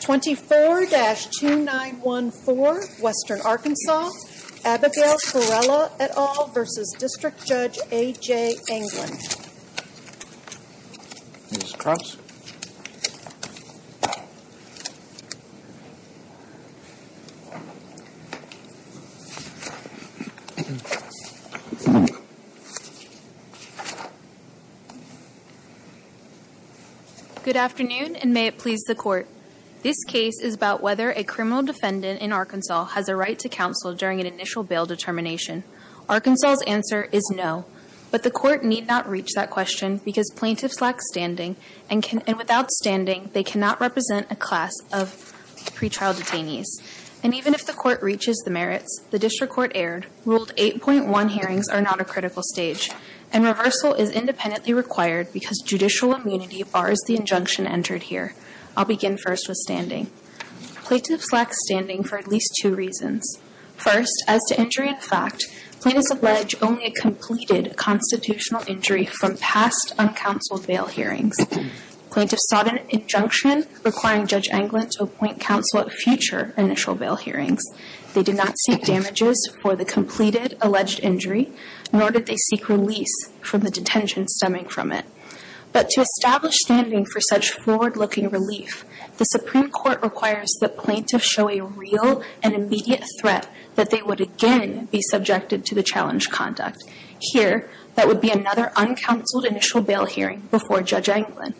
24-2914 Western Arkansas, Abigail Farella et al. v. District Judge A.J. Anglin Ms. Crofts Good afternoon, and may it please the Court. This case is about whether a criminal defendant in Arkansas has a right to counsel during an initial bail determination. Arkansas' answer is no, but the Court need not reach that question because plaintiffs lack standing, and without standing, they cannot represent a class of pretrial detainees. And even if the Court reaches the merits, the District Court erred, ruled 8.1 hearings are not a critical stage, and reversal is independently required because judicial immunity bars the injunction entered here. I'll begin first with standing. Plaintiffs lack standing for at least two reasons. First, as to injury in fact, plaintiffs allege only a completed constitutional injury from past uncounseled bail hearings. Plaintiffs sought an injunction requiring Judge Anglin to appoint counsel at future initial bail hearings. They did not seek damages for the completed alleged injury, nor did they seek release from the detention stemming from it. But to establish standing for such forward-looking relief, the Supreme Court requires that plaintiffs show a real and immediate threat that they would again be subjected to the challenged conduct. Here, that would be another uncounseled initial bail hearing before Judge Anglin.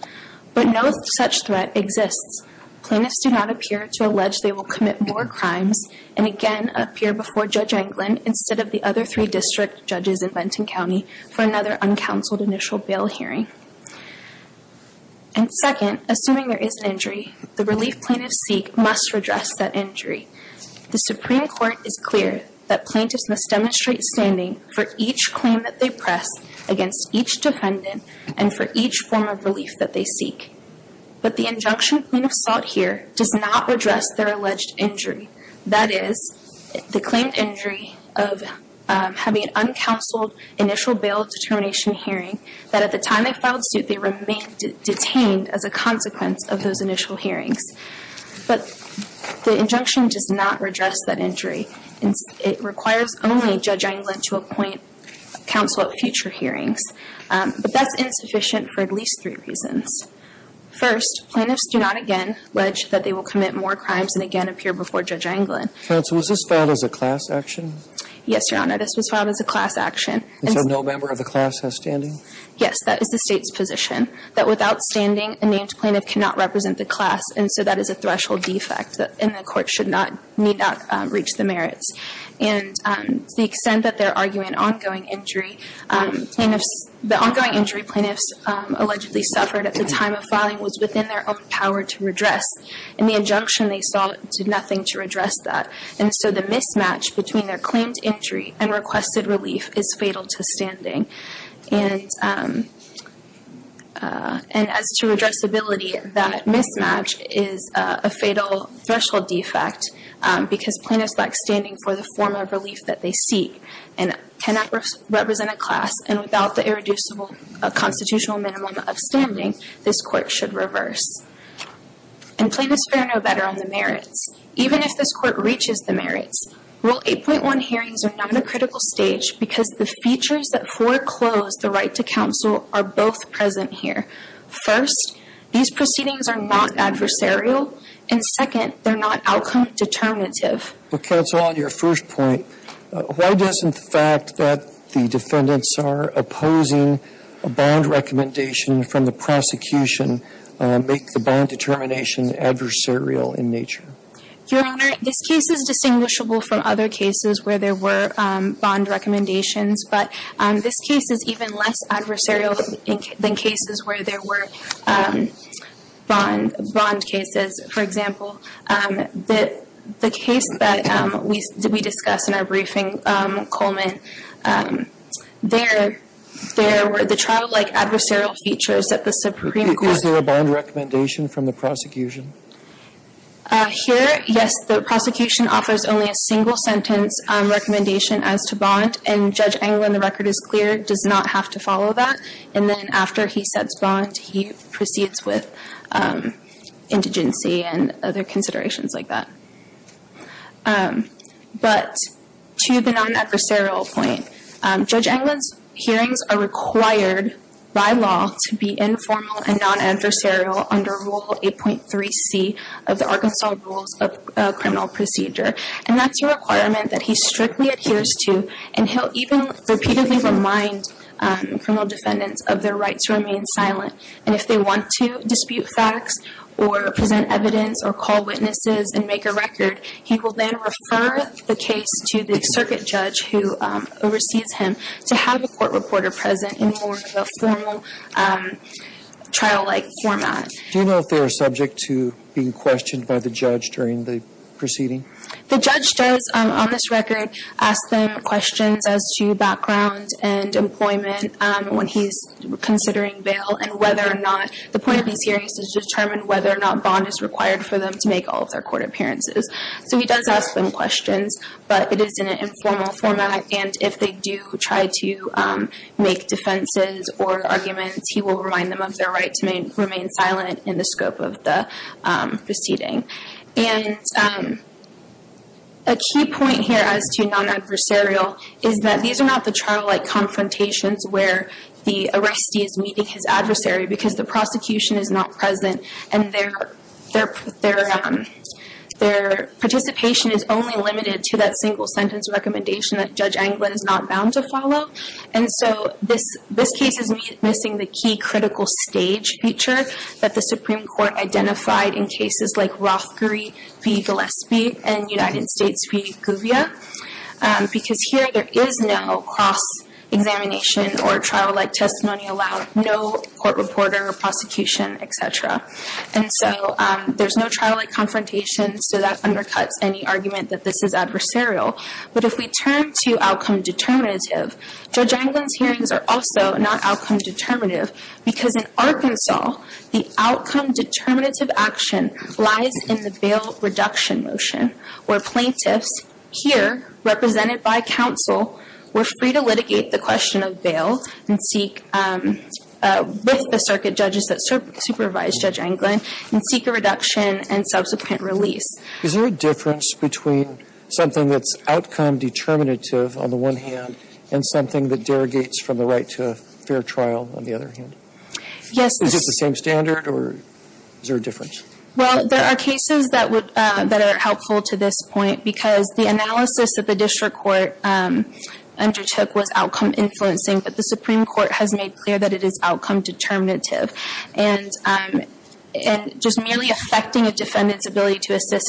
But no such threat exists. Plaintiffs do not appear to allege they will commit more crimes, and again appear before Judge Anglin instead of the other three District Judges in Benton County for another uncounseled initial bail hearing. And second, assuming there is an injury, the relief plaintiffs seek must redress that injury. The Supreme Court is clear that plaintiffs must demonstrate standing for each claim that they press against each defendant and for each form of relief that they seek. But the injunction plaintiffs sought here does not redress their alleged injury. That is, the claimed injury of having an uncounseled initial bail determination hearing that at the time they filed suit they remained detained as a consequence of those initial hearings. But the injunction does not redress that injury. It requires only Judge Anglin to appoint counsel at future hearings. But that's insufficient for at least three reasons. First, plaintiffs do not again allege that they will commit more crimes and again appear before Judge Anglin. Counsel, was this filed as a class action? Yes, Your Honor, this was filed as a class action. And so no member of the class has standing? Yes, that is the State's position, that without standing, a named plaintiff cannot represent the class. And so that is a threshold defect and the Court should not, need not reach the merits. And to the extent that they are arguing ongoing injury, plaintiffs, the ongoing injury plaintiffs allegedly suffered at the time of filing was within their own power to redress. And the injunction they sought did nothing to redress that. And so the mismatch between their claimed injury and requested relief is fatal to standing. And as to redressability, that mismatch is a fatal threshold defect because plaintiffs lack standing for the form of relief that they seek and cannot represent a class and without the irreducible constitutional minimum of standing, this Court should reverse. And plaintiffs fare no better on the merits. Even if this Court reaches the merits. Rule 8.1 hearings are now in a critical stage because the features that foreclose the right to counsel are both present here. First, these proceedings are not adversarial. And second, they're not outcome determinative. But Counsel, on your first point, why does the fact that the defendants are opposing a bond recommendation from the prosecution matter? This case is distinguishable from other cases where there were bond recommendations. But this case is even less adversarial than cases where there were bond cases. For example, the case that we discussed in our briefing, Coleman, there were the trial-like adversarial features that the Supreme Court Is there a bond recommendation from the prosecution? Here, yes. The prosecution offers only a single sentence recommendation as to bond. And Judge Englund, the record is clear, does not have to follow that. And then after he sets bond, he proceeds with indigency and other considerations like that. But to the non-adversarial point, Judge Englund's hearings are required by law to be informal and non-adversarial under Rule 8.3c of the Arkansas Rules of Criminal Procedure. And that's a requirement that he strictly adheres to. And he'll even repeatedly remind criminal defendants of their right to remain silent. And if they want to dispute facts or present evidence or call witnesses and make a record, he will then refer the case to the circuit judge who oversees him to have a court reporter present in more of a formal trial-like format. Do you know if they were subject to being questioned by the judge during the proceeding? The judge does, on this record, ask them questions as to background and employment when he's considering bail and whether or not, the point of these hearings is to determine whether or not bond is required for them to make all of their court appearances. So he does ask them questions, but it is in an informal format. And if they do try to make defenses or arguments, he will remind them of their right to remain silent in the scope of the proceeding. And a key point here as to non-adversarial is that these are not the trial-like confrontations where the arrestee is meeting his adversary because the prosecution is not present and their participation is only limited to that single sentence recommendation that Judge Anglin is missing the key critical stage feature that the Supreme Court identified in cases like Rothbury v. Gillespie and United States v. Guvia because here there is no cross-examination or trial-like testimony allowed, no court reporter or prosecution, etc. And so there's no trial-like confrontation, so that undercuts any argument that this is adversarial. But if we turn to outcome determinative, Judge Anglin's hearings are also not outcome determinative because in Arkansas, the outcome determinative action lies in the bail reduction motion where plaintiffs here, represented by counsel, were free to litigate the question of bail with the circuit judges that supervise Judge Anglin and seek a reduction and subsequent release. Is there a difference between something that's outcome determinative on the one hand and something that derogates from the right to a fair trial on the other hand? Yes. Is it the same standard or is there a difference? Well, there are cases that are helpful to this point because the analysis that the district court undertook was outcome influencing, but the Supreme Court has made clear that it is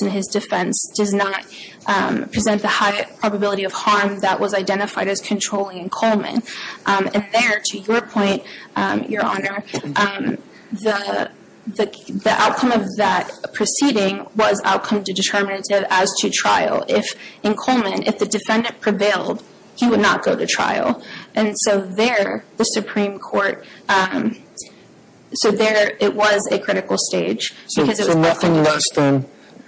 in his defense, does not present the high probability of harm that was identified as controlling in Coleman. And there, to your point, Your Honor, the outcome of that proceeding was outcome determinative as to trial. In Coleman, if the defendant prevailed, he would not go to trial. And so there, the Supreme Court, so there it was a critical stage. So nothing less than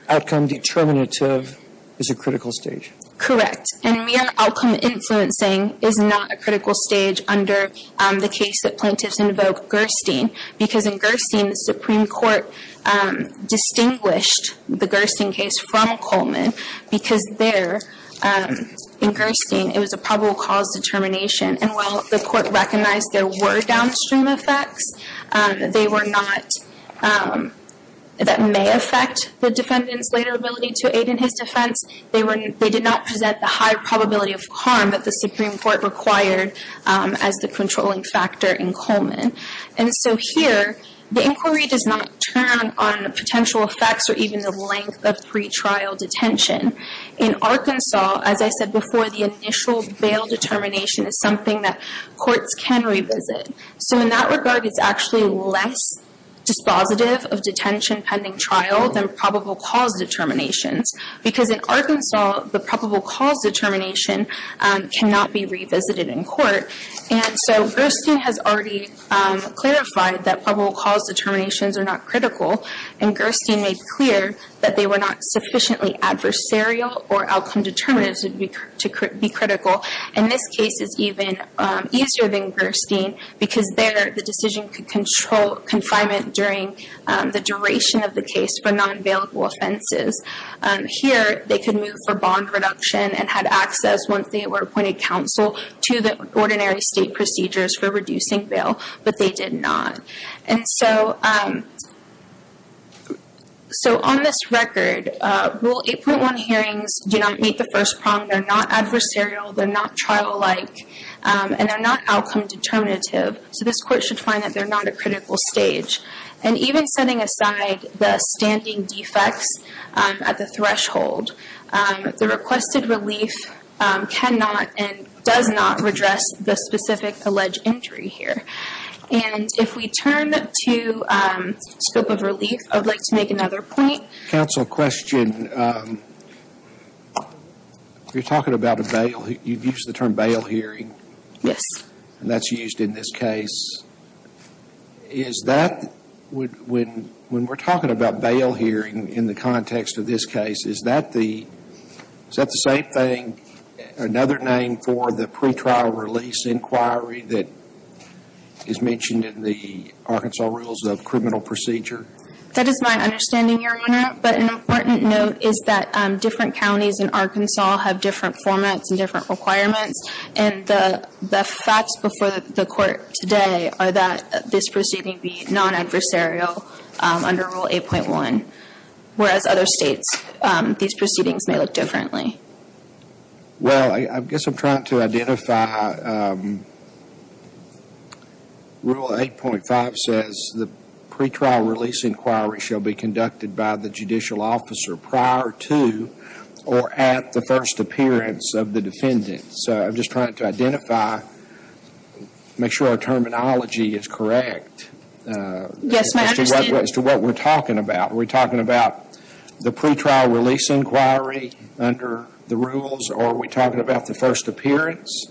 outcome determinative is a critical stage? Correct. And mere outcome influencing is not a critical stage under the case that plaintiffs invoked Gerstein because in Gerstein, the Supreme Court distinguished the Gerstein case from Coleman because there, in Gerstein, it was a probable cause determination. And while the court recognized there were downstream effects, they were not, that may affect the defendant's later ability to aid in his defense, they did not present the high probability of harm that the Supreme Court required as the controlling factor in Coleman. And so here, the inquiry does not turn on the potential effects or even the length of pretrial detention. In Arkansas, as I said before, the initial bail determination is something that courts can revisit. So in that regard, it's actually less dispositive of detention pending trial than probable cause determinations. Because in Arkansas, the probable cause determination cannot be revisited in court. And so Gerstein has already clarified that probable cause determinations are not critical. And Gerstein made clear that they were not sufficiently adversarial or outcome determinatives to be critical. And this case is even easier than Gerstein because there, the decision could control confinement during the duration of the case for non-bailable offenses. Here, they could move for bond reduction and had access once they were appointed counsel to the ordinary state procedures for reducing bail, but they did not. And so on this record, Rule 8.1 hearings do not meet the first prong. They're not adversarial. They're not trial-like. And they're not outcome determinative. So this court should find that they're not a critical stage. And even setting aside the standing defects at the threshold, the requested relief cannot and does not redress the specific alleged injury here. And if we turn to scope of relief, I'd like to make another point. Counsel, question. You're talking about a bail, you've used the term bail hearing. Yes. And that's used in this case. Is that, when we're talking about bail hearing in the context of this case, is that the, is that the same thing, another name for the pretrial release inquiry that is mentioned in the Arkansas Rules of Criminal Procedure? That is my understanding, Your Honor. But an important note is that different counties in Arkansas have different formats and different requirements. And the facts before the court today are that this proceeding be non-adversarial under Rule 8.1, whereas other states, these proceedings may look differently. Well, I guess I'm trying to identify, Rule 8.5 says the pretrial release inquiry shall be conducted by the judicial officer prior to or at the first appearance of the defendant. So I'm just trying to identify, make sure our terminology is correct. Yes, my understanding. As to what we're talking about, are we talking about the pretrial release inquiry under the rules or are we talking about the first appearance?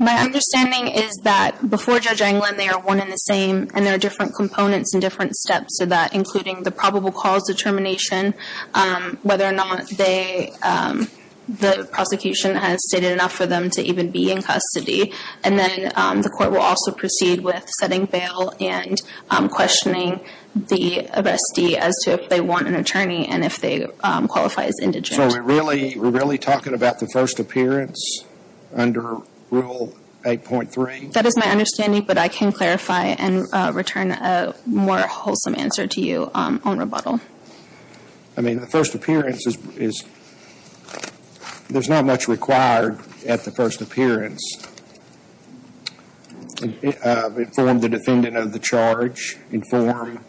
My understanding is that before Judge Englund, they are one and the same and there are different components and different steps to that, including the probable cause determination, whether or not they, the prosecution has stated enough for them to even be in custody. And then the court will also proceed with setting bail and questioning the arrestee as to if they want an attorney and if they qualify as indigent. So we're really talking about the first appearance under Rule 8.3? That is my understanding, but I can clarify and return a more wholesome answer to you on rebuttal. I mean, the first appearance is, there's not much required at the first appearance. Inform the defendant of the charge, inform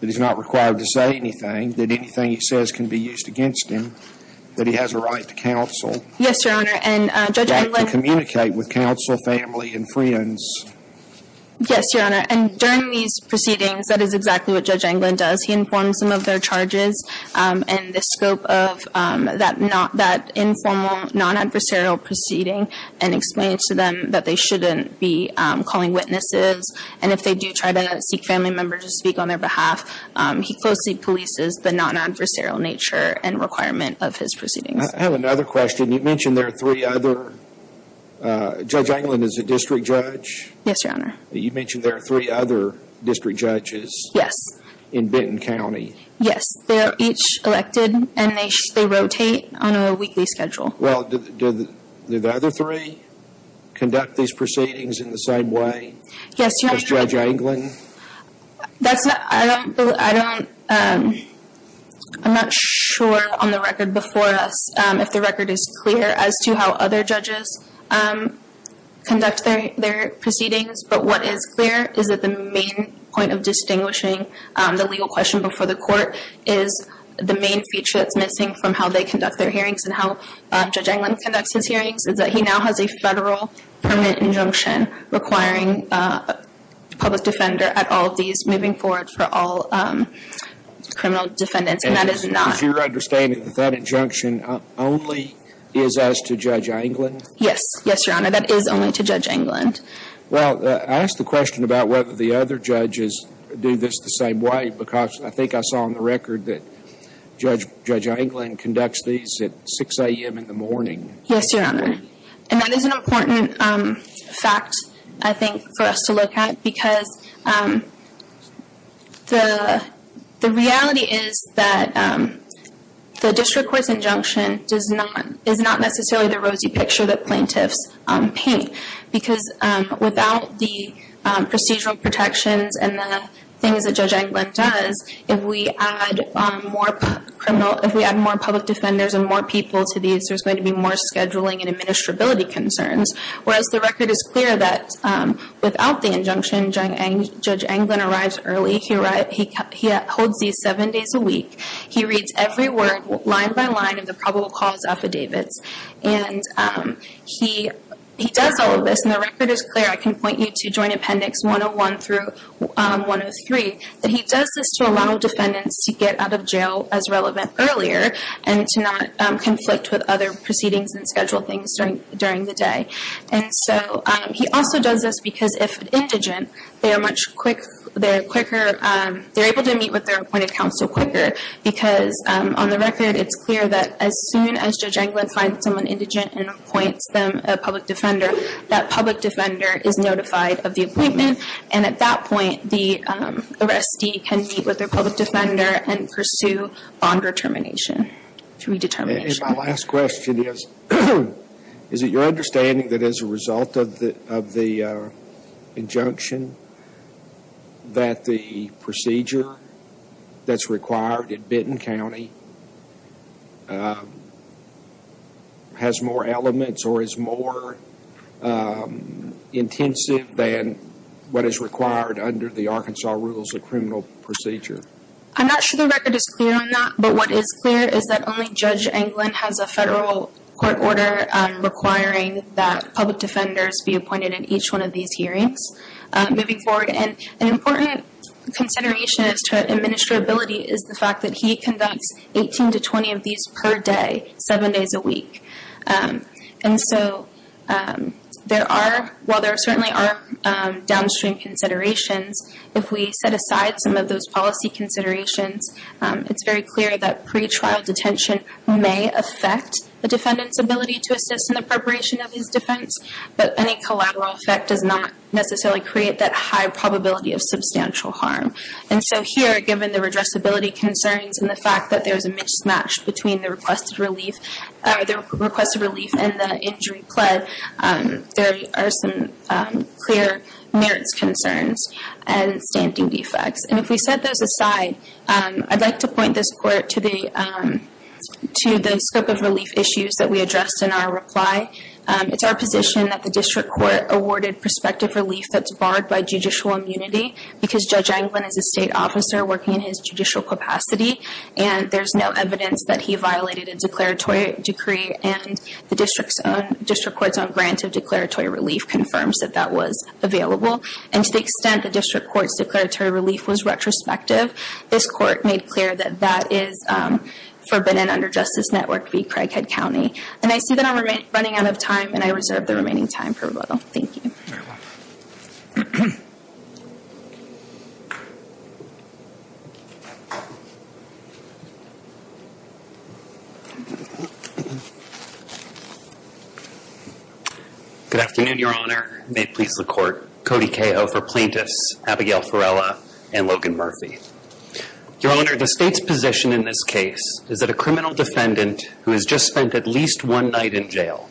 that he's not required to say anything, that anything he says can be used against him, that he has a right to counsel. Yes, Your Honor. That he can communicate with counsel, family, and friends. Yes, Your Honor. And during these proceedings, that is exactly what Judge Englund does. He informs them of their charges and the scope of that informal, non-adversarial proceeding and explains to them that they shouldn't be calling witnesses. And if they do try to seek family members to speak on their behalf, he closely polices the non-adversarial nature and requirement of his proceedings. I have another question. You mentioned there are three other, Judge Englund is a district judge? Yes, Your Honor. You mentioned there are three other district judges? Yes. In Benton County? Yes. They are each elected and they rotate on a weekly schedule. Well, do the other three conduct these proceedings in the same way as Judge Englund? That's not, I don't, I'm not sure on the record before us if the record is clear as to how other judges conduct their proceedings. But what is clear is that the main point of distinguishing the legal question before the court is the main feature that's missing from how they conduct their hearings and how Judge Englund conducts his hearings is that he now has a federal permit injunction requiring a public defender at all of these moving forward for all criminal defendants. And that is not... Is your understanding that that injunction only is as to Judge Englund? Yes. Yes, Your Honor. That is only to Judge Englund. Well, I ask the question about whether the other judges do this the same way because I think I saw on the record that Judge Englund conducts these at 6 a.m. in the morning. Yes, Your Honor. And that is an important fact, I think, for us to look at because the reality is that the district court's injunction is not necessarily the rosy picture that plaintiffs paint because without the procedural protections and the things that Judge Englund does, the district court's injunction is that if we add more public defenders and more people to these, there's going to be more scheduling and administrability concerns, whereas the record is clear that without the injunction, Judge Englund arrives early. He holds these seven days a week. He reads every word, line by line, of the probable cause affidavits. And he does all of this, and the record is clear. I can point you to Joint Appendix 101 through 103, that he does this to allow defendants to get out of jail as relevant earlier and to not conflict with other proceedings and schedule things during the day. And so he also does this because if indigent, they're able to meet with their appointed counsel quicker because on the record, it's clear that as soon as Judge Englund finds someone indigent and appoints them a public defender, that public defender is notified of the appointment and at that point, the arrestee can meet with their public defender and pursue bond determination, redetermination. And my last question is, is it your understanding that as a result of the injunction, that the procedure that's required at Benton County has more elements or is more intensive than what is required under the Arkansas Rules of Criminal Procedure? I'm not sure the record is clear on that, but what is clear is that only Judge Englund has a federal court order requiring that public defenders be appointed in each one of these hearings moving forward. And an important consideration as to administrability is the fact that he conducts 18 to 20 of these per day, seven days a week. And so there are, while there certainly are downstream considerations, if we set aside some of those policy considerations, it's very clear that pretrial detention may affect the defendant's ability to assist in the preparation of his defense, but any collateral effect does not necessarily create that high probability of substantial harm. And so here, given the redressability concerns and the fact that there's a mismatch between the requested relief and the injury pled, there are some clear merits concerns and standing defects. And if we set those aside, I'd like to point this court to the scope of relief issues that we addressed in our reply. It's our position that the district court awarded prospective relief that's barred by judicial immunity because Judge Englund is a state officer working in his judicial capacity, and there's no evidence that he violated a declaratory decree, and the district court's own grant of declaratory relief confirms that that was available. And to the extent the district court's declaratory relief was retrospective, this court made clear that that is forbidden under Justice Network v. Craighead County. And I see that I'm running out of time, and I reserve the remaining time for rebuttal. Good afternoon, Your Honor. May it please the court. Cody Cahill for plaintiffs, Abigail Ferrella and Logan Murphy. Your Honor, the state's position in this case is that a criminal defendant who has just spent at least one night in jail,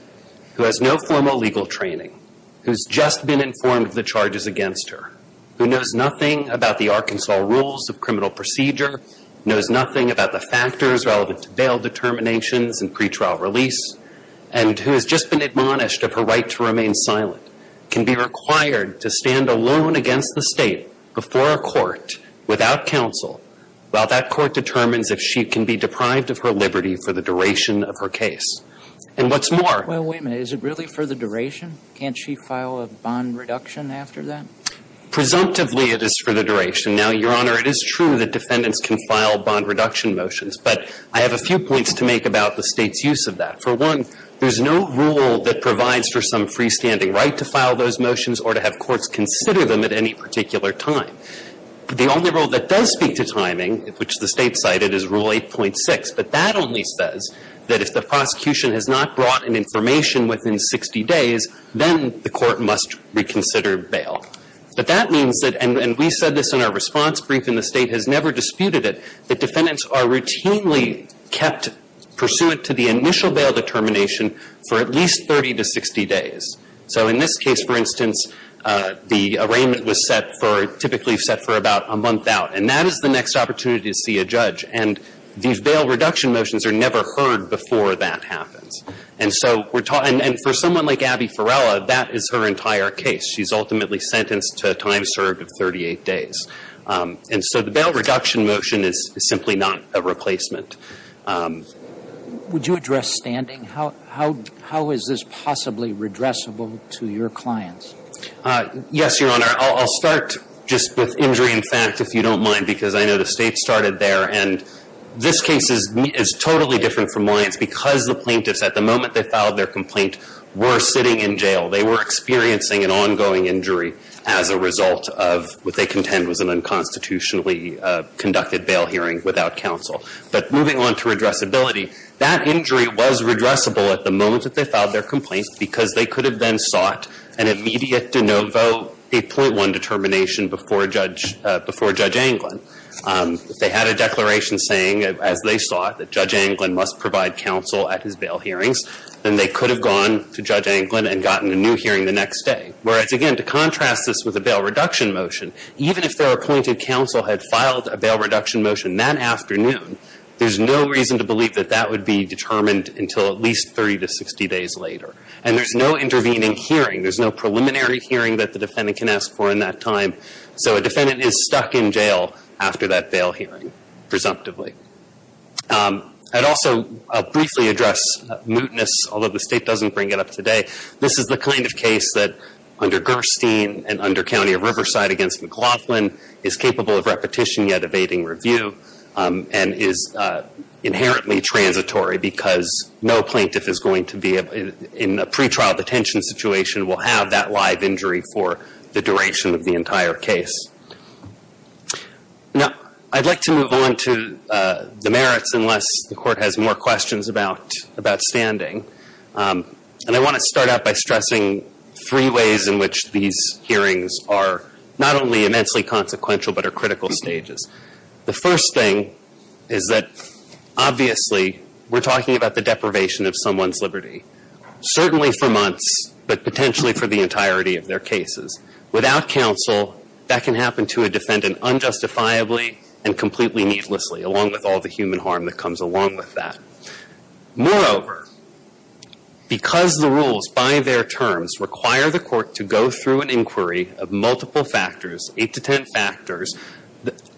who has no formal legal training, who's just been informed of the charges against her, who knows nothing about the Arkansas rules of criminal procedure, knows nothing about the factors relevant to bail determinations and pretrial release, and who has just been admonished of her right to remain silent, can be required to stand alone against the state before a court without counsel while that court determines if she can be deprived of her liberty for the duration of her case. And what's more- Well, wait a minute. Is it really for the duration? Can't she file a bond reduction after that? Presumptively, it is for the duration. Now, Your Honor, it is true that defendants can file bond reduction motions, but I have a few points to make about the state's use of that. For one, there's no rule that provides for some freestanding right to file those motions or to have courts consider them at any particular time. The only rule that does speak to timing, which the state cited, is Rule 8.6, but that only says that if the prosecution has not brought an information within 60 days, then the court must reconsider bail. But that means that- and we said this in our response brief and the state has never disputed it- that defendants are routinely kept pursuant to the initial bail determination for at least 30 to 60 days. So in this case, for instance, the arraignment was set for- typically set for about a month out, and that is the next opportunity to see a judge. And these bail reduction motions are never heard before that happens. And so we're talking- and for someone like Abby Ferrella, that is her entire case. She's ultimately sentenced to a time served of 38 days. And so the bail reduction motion is simply not a replacement. Would you address standing? How is this possibly redressable to your clients? Yes, Your Honor. I'll start just with injury in fact, if you don't mind, because I know the state started there. And this case is totally different from mine. It's because the plaintiffs, at the moment they filed their complaint, were sitting in jail. They were experiencing an ongoing injury as a result of what they contend was an unconstitutionally conducted bail hearing without counsel. But moving on to redressability, that injury was redressable at the moment that they filed their complaint because they could have then sought an immediate de novo 8.1 determination before Judge Anglin. If they had a declaration saying, as they sought, that Judge Anglin must provide counsel at his bail hearings, then they could have gone to Judge Anglin and gotten a new hearing the next day. Whereas, again, to contrast this with a bail reduction motion, even if their appointed counsel had filed a bail reduction motion that afternoon, there's no reason to believe that that would be determined until at least 30 to 60 days later. And there's no intervening preliminary hearing that the defendant can ask for in that time. So a defendant is stuck in jail after that bail hearing, presumptively. I'd also briefly address mootness, although the state doesn't bring it up today. This is the kind of case that, under Gerstein and under County of Riverside against McLaughlin, is capable of repetition yet evading review and is inherently transitory because no plaintiff is going to be in a pretrial detention situation and will have that live injury for the duration of the entire case. Now, I'd like to move on to the merits, unless the Court has more questions about standing. And I want to start out by stressing three ways in which these hearings are not only immensely consequential but are critical stages. The first thing is that, obviously, we're talking about the deprivation of someone's liberty, certainly for months, but potentially for the entirety of their cases. Without counsel, that can happen to a defendant unjustifiably and completely needlessly, along with all the human harm that comes along with that. Moreover, because the rules by their terms require the Court to go through an inquiry of multiple factors, eight to ten factors,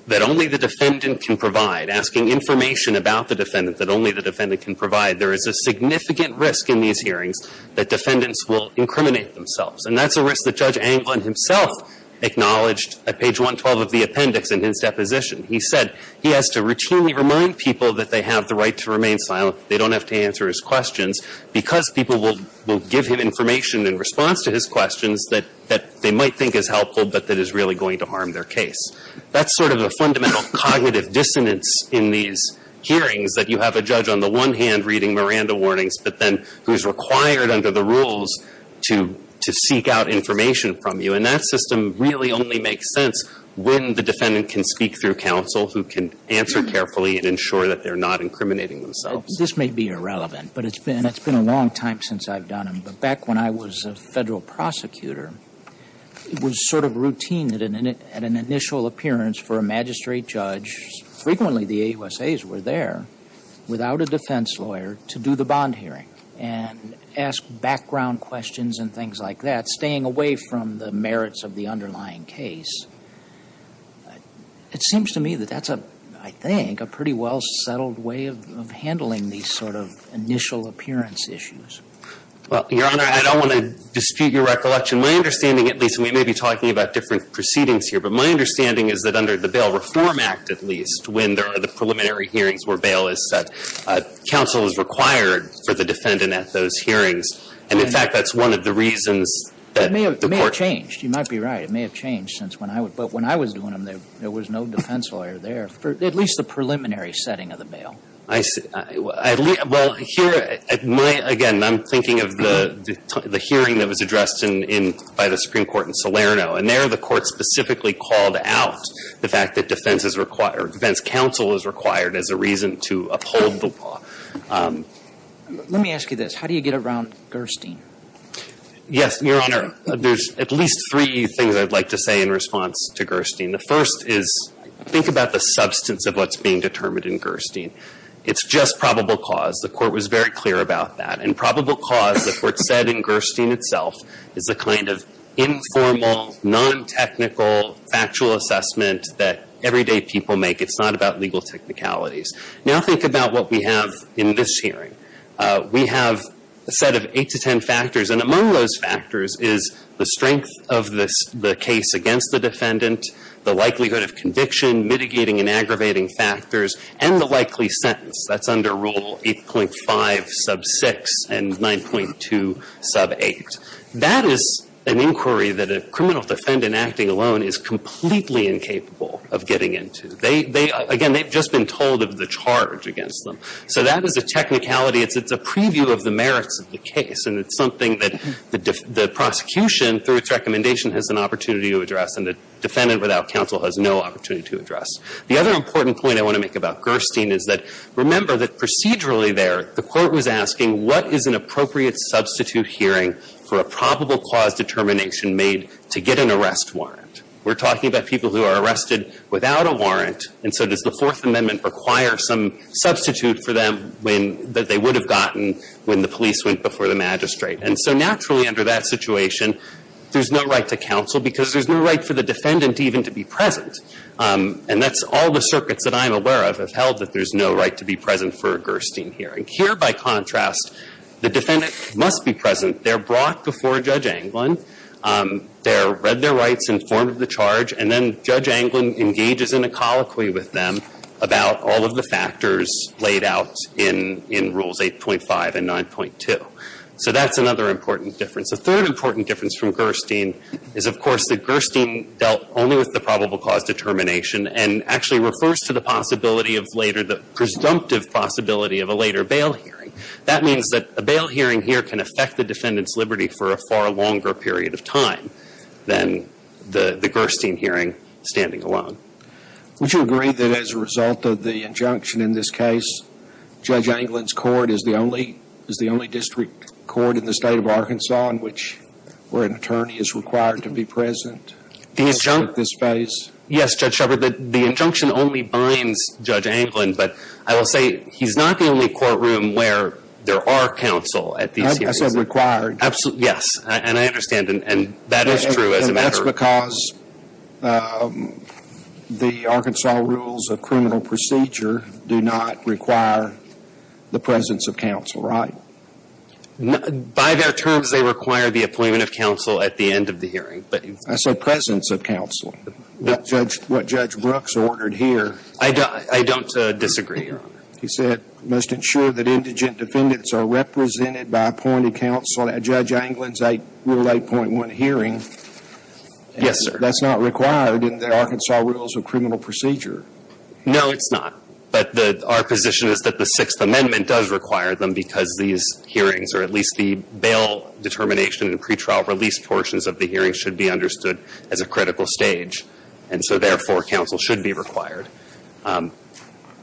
that only the defendant can provide, asking information about the defendant that only the defendant can provide, there is a significant risk in these hearings that defendants will incriminate themselves. And that's a risk that Judge Anglin himself acknowledged at page 112 of the appendix in his deposition. He said he has to routinely remind people that they have the right to remain silent, they don't have to answer his questions, because people will give him information in response to his questions that they might think is helpful but that is really going to harm their case. That's sort of the fundamental cognitive dissonance in these hearings, that you have a judge on the one hand reading Miranda warnings, but then who's required under the rules to seek out information from you. And that system really only makes sense when the defendant can speak through counsel who can answer carefully and ensure that they're not incriminating themselves. This may be irrelevant, but it's been a long time since I've done it. But back when I was a Federal prosecutor, it was sort of routine at an initial appearance for a magistrate judge, frequently the AUSAs were there, without a defense lawyer to do the bond hearing and ask background questions and things like that, staying away from the merits of the underlying case. It seems to me that that's a, I think, a pretty well settled way of handling these sort of initial appearance issues. Well, Your Honor, I don't want to dispute your recollection. My understanding, at least, and we may be talking about different proceedings here, but my understanding is that under the Bail Reform Act, at least, when there are the preliminary hearings where bail is set, counsel is required for the defendant at those hearings. And in fact, that's one of the reasons that the court It may have changed. You might be right. It may have changed since when I was, but when I was doing them, there was no defense lawyer there for at least the preliminary setting of the bail. I see. Well, here, my, again, I'm thinking of the hearing that was addressed in, by the Supreme Court in Salerno. And there, the court specifically called out the fact that defense is required, defense counsel is required as a reason to uphold the law. Let me ask you this. How do you get around Gerstein? Yes, Your Honor. There's at least three things I'd like to say in response to Gerstein. The first is, think about the substance of what's being determined in Gerstein. It's just probable cause. The court was very clear about that. And probable cause, the court said in Gerstein itself, is a kind of informal, non-technical, factual assessment that everyday people make. It's not about legal technicalities. Now think about what we have in this hearing. We have a set of eight to ten factors, and among those factors is the strength of the case against the defendant, the likelihood of conviction, mitigating and aggravating factors, and the likely sentence. That's under Rule 8.5 sub 6 and 9.2 sub 8. That is an inquiry that a criminal defendant, acting alone, is completely incapable of getting into. They, they, again, they've just been told of the charge against them. So that is a technicality. It's a preview of the merits of the case. And it's something that the prosecution, through its recommendation, has an opportunity to address, and a defendant without counsel has no opportunity to address. The other important point I want to make about Gerstein is that, remember that procedurally there, the court was asking, what is an appropriate substitute hearing for a probable cause determination made to get an arrest warrant? We're talking about people who are arrested without a warrant, and so does the Fourth Amendment require some substitute for them when, that they would have gotten when the police went before the magistrate? And so naturally, under that situation, there's no right to counsel because there's no right for the defendant even to be present. And that's all the circuits that I'm aware of have held that there's no right to be present for a Gerstein hearing. Here, by contrast, the defendant must be present. They're brought before Judge Anglin. They're read their rights, informed of the charge, and then Judge Anglin engages in a colloquy with them about all of the factors laid out in, in Rules 8.5 and 9.2. So that's another important difference. A third important difference from Gerstein is, of course, that Gerstein dealt only with the probable cause determination and actually refers to the possibility of later, the presumptive possibility of a later bail hearing. That means that a bail hearing here can affect the defendant's liberty for a far longer period of time than the, the Gerstein hearing standing alone. Would you agree that as a result of the injunction in this case, Judge Anglin's court is the only, is the only district court in the state of Arkansas in which, where an attorney is required to be present? The injunct- At this phase? Yes, Judge Shepherd. The, the injunction only binds Judge Anglin, but I will say he's not the only courtroom where there are counsel at these hearings. I said required. Absolutely, yes. And I understand. And, and that is true as a matter of- And that's because the Arkansas Rules of Criminal Procedure do not require the presence of counsel, right? By their terms, they require the appointment of counsel at the end of the hearing, but- I said presence of counsel. What Judge, what Judge Brooks ordered here- I don't, I don't disagree, Your Honor. He said, must ensure that indigent defendants are represented by appointed counsel at Judge Anglin's Rule 8.1 hearing- Yes, sir. That's not required in the Arkansas Rules of Criminal Procedure. No, it's not. But the, our position is that the Sixth Amendment does require them because these hearings, or at least the bail determination and pretrial release portions of the hearings should be understood as a critical stage. And so, therefore, counsel should be required.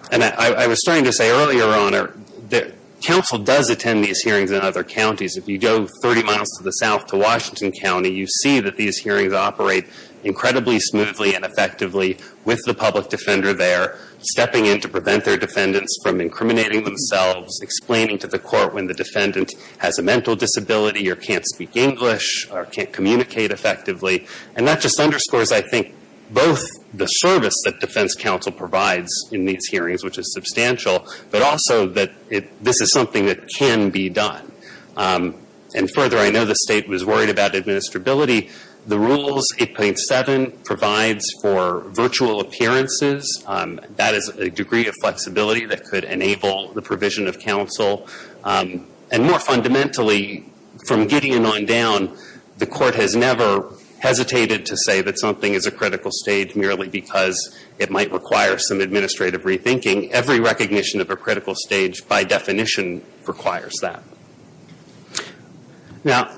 And I, I was starting to say earlier, Your Honor, that counsel does attend these hearings in other counties. If you go 30 miles to the south to Washington County, you see that these hearings operate incredibly smoothly and effectively with the public defender there, stepping in to prevent their defendants from incriminating themselves, explaining to the court when the defendant has a mental disability or can't speak English or can't communicate effectively. And that just underscores, I think, both the service that defense counsel provides in these hearings, which is substantial, but also that it, this is something that can be done. And further, I know the State was worried about administrability. The Rules 8.7 provides for virtual appearances. That is a degree of flexibility that could enable the provision of counsel. And more fundamentally, from Gideon on down, the Court has never hesitated to say that something is a critical stage merely because it might require some administrative rethinking. Every recognition of a critical stage, by definition, requires that. Now,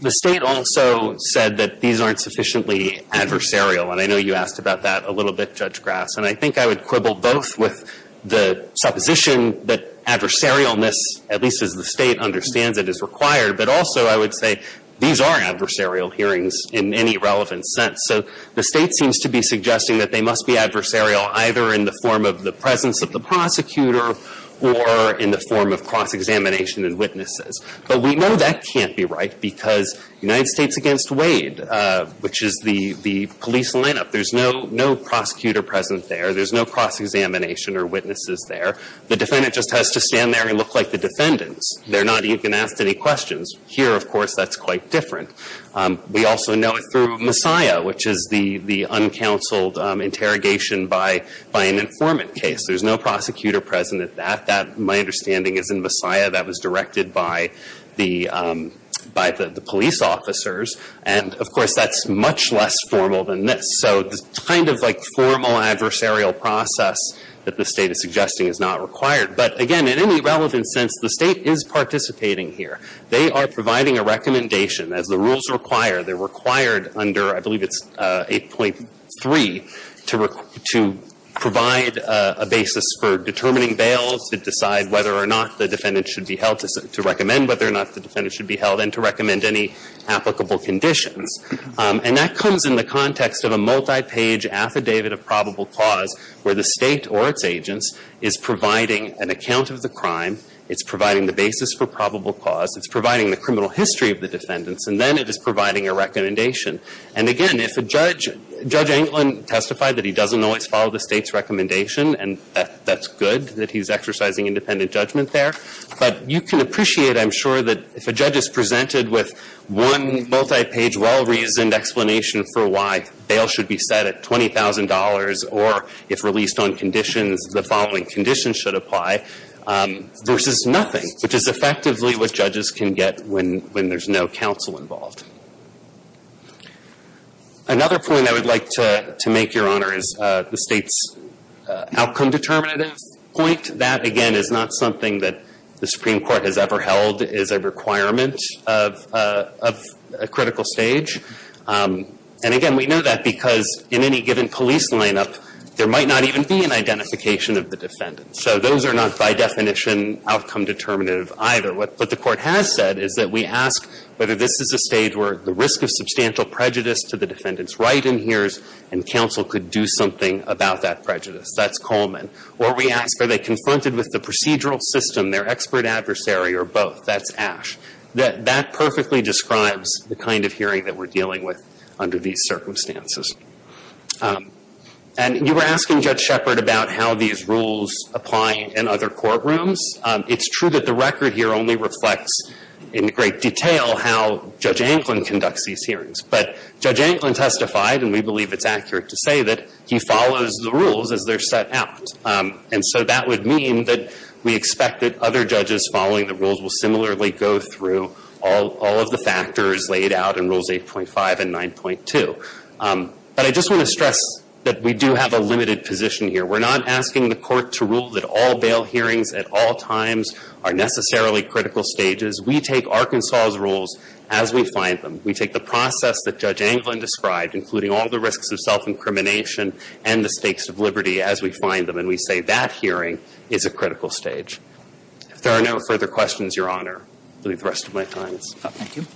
the State also said that these aren't sufficiently adversarial. And I know you asked about that a little bit, Judge Grass. And I think I would quibble both with the supposition that adversarialness, at least as the State understands it, is required, but also I would say these are adversarial hearings in any relevant sense. So the State seems to be suggesting that they must be adversarial either in the form of the presence of the prosecutor or in the form of cross-examination and witnesses. But we know that can't be right because United States v. Wade, which is the police lineup, there's no prosecutor present there. There's no cross-examination or witnesses there. The defendant just has to stand there and look like the defendants. They're not even asked any questions. Here, of course, that's quite different. We also know it through Messiah, which is the uncounseled interrogation by an informant case. There's no prosecutor present at that. That, my understanding, is in Messiah. That was directed by the police officers. And, of course, that's much less formal than this. So the kind of like formal adversarial process that the State is suggesting is not required. But, again, in any relevant sense, the State is participating here. They are providing a recommendation, as the rules require. They're required under, I believe it's 8.3, to provide a basis for determining bails, to decide whether or not the defendant should be held, to recommend whether or not the defendant should be held, and to recommend any applicable conditions. And that comes in the context of a multi-page affidavit of probable cause where the State or its agents is providing an account of the crime. It's providing the basis for probable cause. It's providing the criminal history of the defendants. And then it is providing a recommendation. And, again, if a judge, Judge Anglin testified that he doesn't always follow the State's recommendation, and that's good that he's exercising independent judgment there. But you can appreciate, I'm sure, that if a judge is presented with one multi-page well-reasoned explanation for why bail should be set at $20,000 or if released on conditions, the following conditions should apply, versus nothing, which is effectively what judges can get when there's no counsel involved. Another point I would like to make, Your Honor, is the State's outcome determinative point. That, again, is not something that the Supreme Court has ever held as a requirement of a critical stage. And, again, we know that because in any given police lineup, there might not even be an identification of the defendant. So those are not by definition outcome determinative either. What the Court has said is that we ask whether this is a stage where the risk of substantial prejudice to the defendant's right adheres and counsel could do something about that prejudice. That's Coleman. Or we ask are they confronted with the procedural system, their expert adversary, or both. That's Ash. That perfectly describes the kind of hearing that we're dealing with under these circumstances. And you were asking, Judge Shepard, about how these rules apply in other courtrooms. It's true that the record here only reflects in great detail how Judge Anglin conducts these hearings. But Judge Anglin testified, and we believe it's accurate to say that he follows the rules as they're set out. And so that would mean that we expect that other judges following the rules will similarly go through all of the factors laid out in But I just want to stress that we do have a limited position here. We're not asking the Court to rule that all bail hearings at all times are necessarily critical stages. We take Arkansas' rules as we find them. We take the process that Judge Anglin described, including all the risks of self-incrimination and the stakes of liberty as we find them. And we say that hearing is a critical stage. If there are no further questions, Your Honor, I'll leave the rest of my time. Thank you.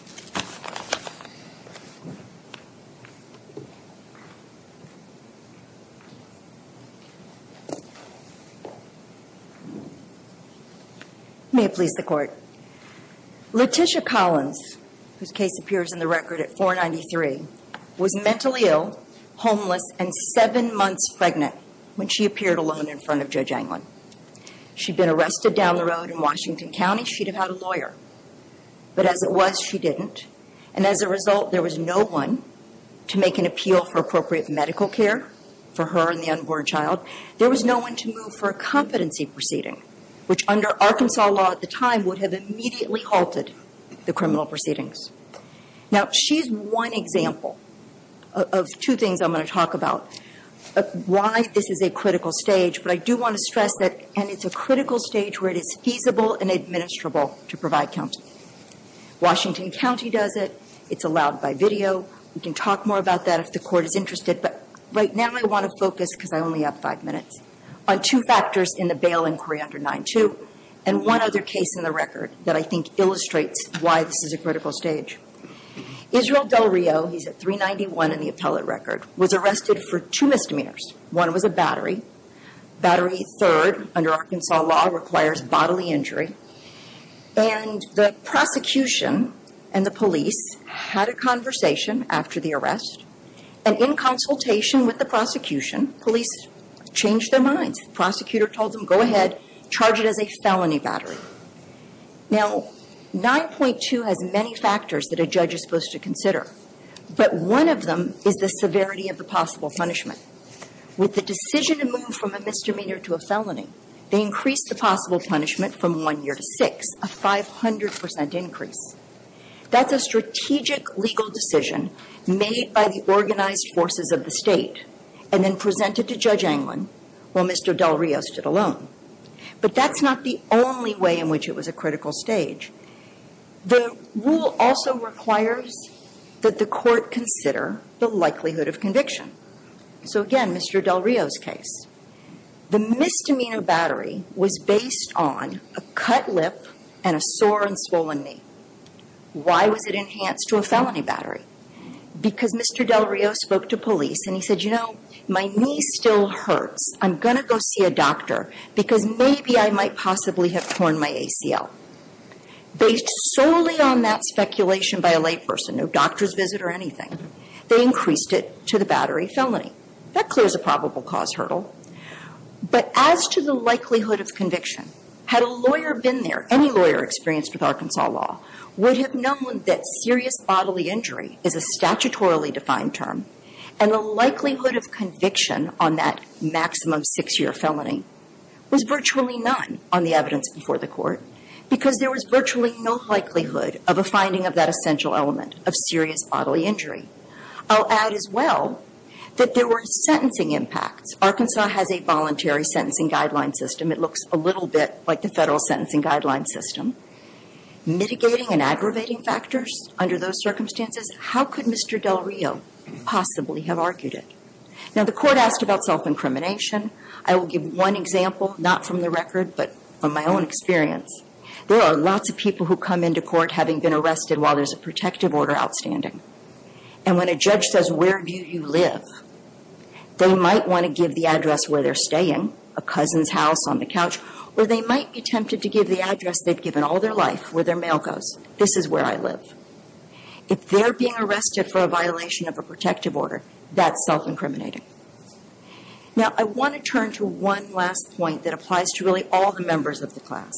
May it please the Court. Letitia Collins, whose case appears in the record at 493, was mentally ill, homeless, and seven months pregnant when she appeared alone in front of Judge Anglin. She'd been arrested down the road in Washington County. She'd have had a lawyer. But as it was, she didn't. And as a result, there was no one to make an appeal for appropriate medical care for her and the unborn child. There was no one to move for a competency proceeding, which under Arkansas law at the time would have immediately halted the criminal proceedings. Now, she's one example of two things I'm going to talk about, why this is a critical stage. But I do want to stress that it's a critical stage where it is feasible and administrable to provide counseling. Washington County does it. It's allowed by video. We can talk more about that if the Court is interested. But right now, I want to focus, because I only have five minutes, on two factors in the bail inquiry under 9-2 and one other case in the record that I think illustrates why this is a critical stage. Israel Del Rio, he's at 391 in the appellate record, was arrested for two misdemeanors. One was a battery. Battery third, under Arkansas law, requires bodily injury. And the prosecution and the police had a conversation after the arrest. And in consultation with the prosecution, police changed their minds. Prosecutor told them, go ahead, charge it as a felony battery. Now, 9-2 has many factors that a judge is supposed to consider. But one of them is the severity of the possible punishment. With the decision to move from a misdemeanor to a felony, they increased the possible punishment from one year to six, a 500 percent increase. That's a strategic legal decision made by the organized forces of the State and then presented to Judge Anglin while Mr. Del Rio stood alone. But that's not the only way in which it was a critical stage. The rule also requires that the Court consider the likelihood of conviction. So again, Mr. Del Rio's case. The misdemeanor battery was based on a cut lip and a sore and swollen knee. Why was it enhanced to a felony battery? Because Mr. Del Rio spoke to police and he said, you know, my knee still hurts. I'm going to go see a doctor because maybe I might possibly have torn my ACL. Based solely on that speculation by a layperson, no doctor's visit or anything, they increased it to the battery felony. That clears a probable cause hurdle. But as to the likelihood of conviction, had a lawyer been there, any lawyer experienced with Arkansas law would have known that serious bodily injury is a statutorily defined term and the likelihood of conviction on that maximum six-year felony was virtually none on the evidence before the Court because there was virtually no likelihood of a finding of that essential element of serious bodily injury. I'll add as well that there were sentencing impacts. Arkansas has a voluntary sentencing guideline system. It looks a little bit like the federal sentencing guideline system. Mitigating and aggravating factors under those circumstances, how could Mr. Del Rio possibly have argued it? Now the Court asked about self-incrimination. I will give one example, not from the record, but from my own experience. There are lots of people who come into court having been arrested while there's a protective order outstanding. And when a judge says, where do you live? They might want to give the address where they're staying, a cousin's house on the couch, or they might be tempted to give the address they've given all their life, where their mail goes, this is where I live. If they're being arrested for a violation of a protective order, that's self-incriminating. Now I want to turn to one last point that applies to really all the of the class.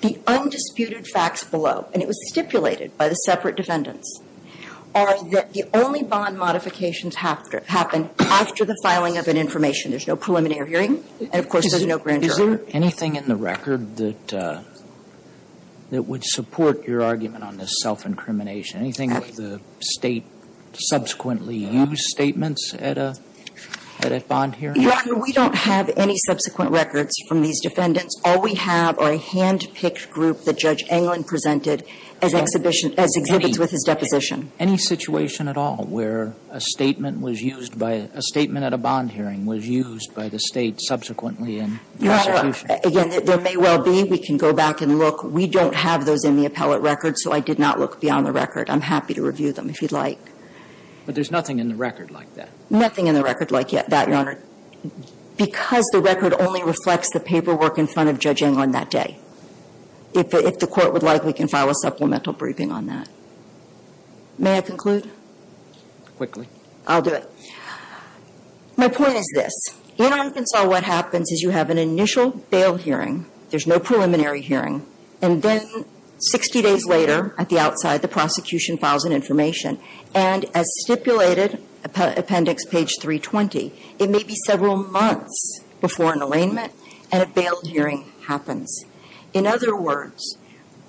The undisputed facts below, and it was stipulated by the separate defendants, are that the only bond modifications happen after the filing of an information. There's no preliminary hearing, and of course, there's no grand jury. Is there anything in the record that would support your argument on this self-incrimination? Anything that the State subsequently used statements at a bond hearing? Your Honor, we don't have any subsequent records from these defendants. All we have are a hand-picked group that Judge Englund presented as exhibits with his deposition. Any situation at all where a statement was used by a statement at a bond hearing was used by the State subsequently in the prosecution? Again, there may well be. We can go back and look. We don't have those in the appellate record, so I did not look beyond the record. I'm happy to review them if you'd like. But there's nothing in the record like that? Nothing in the record like that, Your Honor, because the record only reflects the paperwork in front of Judge Englund that day. If the Court would like, we can file a supplemental briefing on that. May I conclude? Quickly. I'll do it. My point is this. In Arkansas, what happens is you have an initial bail hearing, there's no preliminary hearing, and then 60 days later at the outside, the prosecution files an information. And as stipulated, appendix page 320, it may be several months before an arraignment and a bail hearing happens. In other words,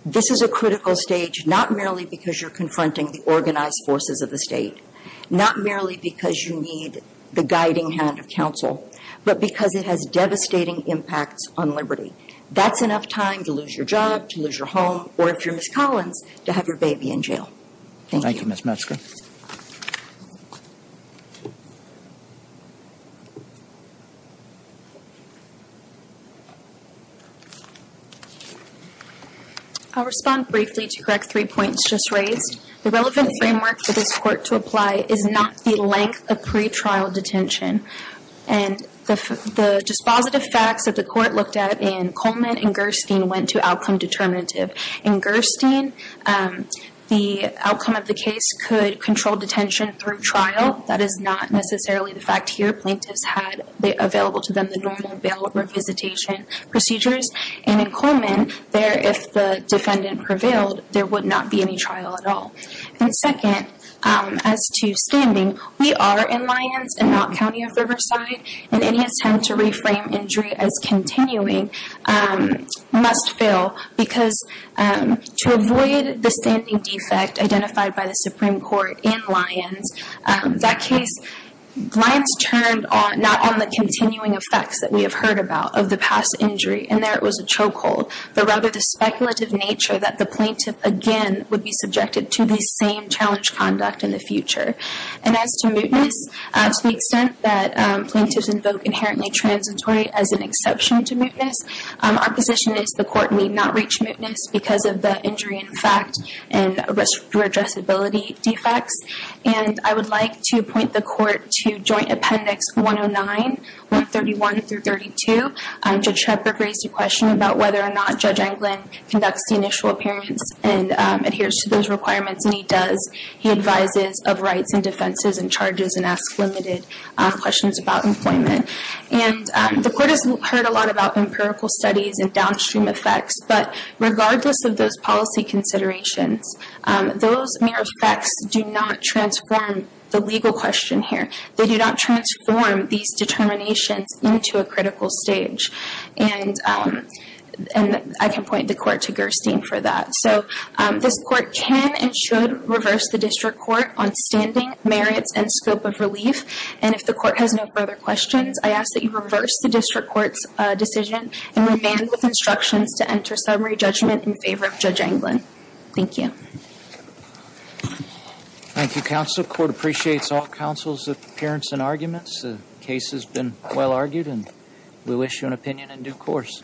this is a critical stage not merely because you're confronting the organized forces of the State, not merely because you need the guiding hand of counsel, but because it has devastating impacts on liberty. That's enough time to lose your job, to lose your home, or if you're Ms. Metzger. I'll respond briefly to correct three points just raised. The relevant framework for this Court to apply is not the length of pretrial detention. And the dispositive facts that the Court looked at in Coleman and Gerstein went to outcome determinative. In Gerstein, the outcome of the case could control detention through trial. That is not necessarily the fact here. Plaintiffs had available to them the normal bail revisitation procedures. And in Coleman, there, if the defendant prevailed, there would not be any trial at all. And second, as to standing, we are in Lyons and not County of Riverside, and any attempt to reframe injury as continuing must fail because to avoid the standing defect identified by the Supreme Court in Lyons, that case Lyons turned not on the continuing effects that we have heard about of the past injury, and there it was a chokehold, but rather the speculative nature that the plaintiff again would be subjected to the same challenge conduct in the future. And as to mootness, to the extent that plaintiffs invoke inherently transitory as an exception to mootness, our position is the Court need not reach mootness because of the injury in fact and addressability defects. And I would like to point the Court to Joint Appendix 109, 131 through 32. Judge Shepard raised a question about whether or not Judge Anglin conducts the defenses and charges and asks limited questions about employment. And the Court has heard a lot about empirical studies and downstream effects, but regardless of those policy considerations, those mere effects do not transform the legal question here. They do not transform these determinations into a critical stage. And I can point the Court to Gerstein for that. So this Court can and should reverse the District Court on standing, merits, and scope of relief. And if the Court has no further questions, I ask that you reverse the District Court's decision and remand with instructions to enter summary judgment in favor of Judge Anglin. Thank you. Thank you, Counsel. The Court appreciates all counsel's appearance and arguments. The case has been well argued and we wish you an opinion in due course.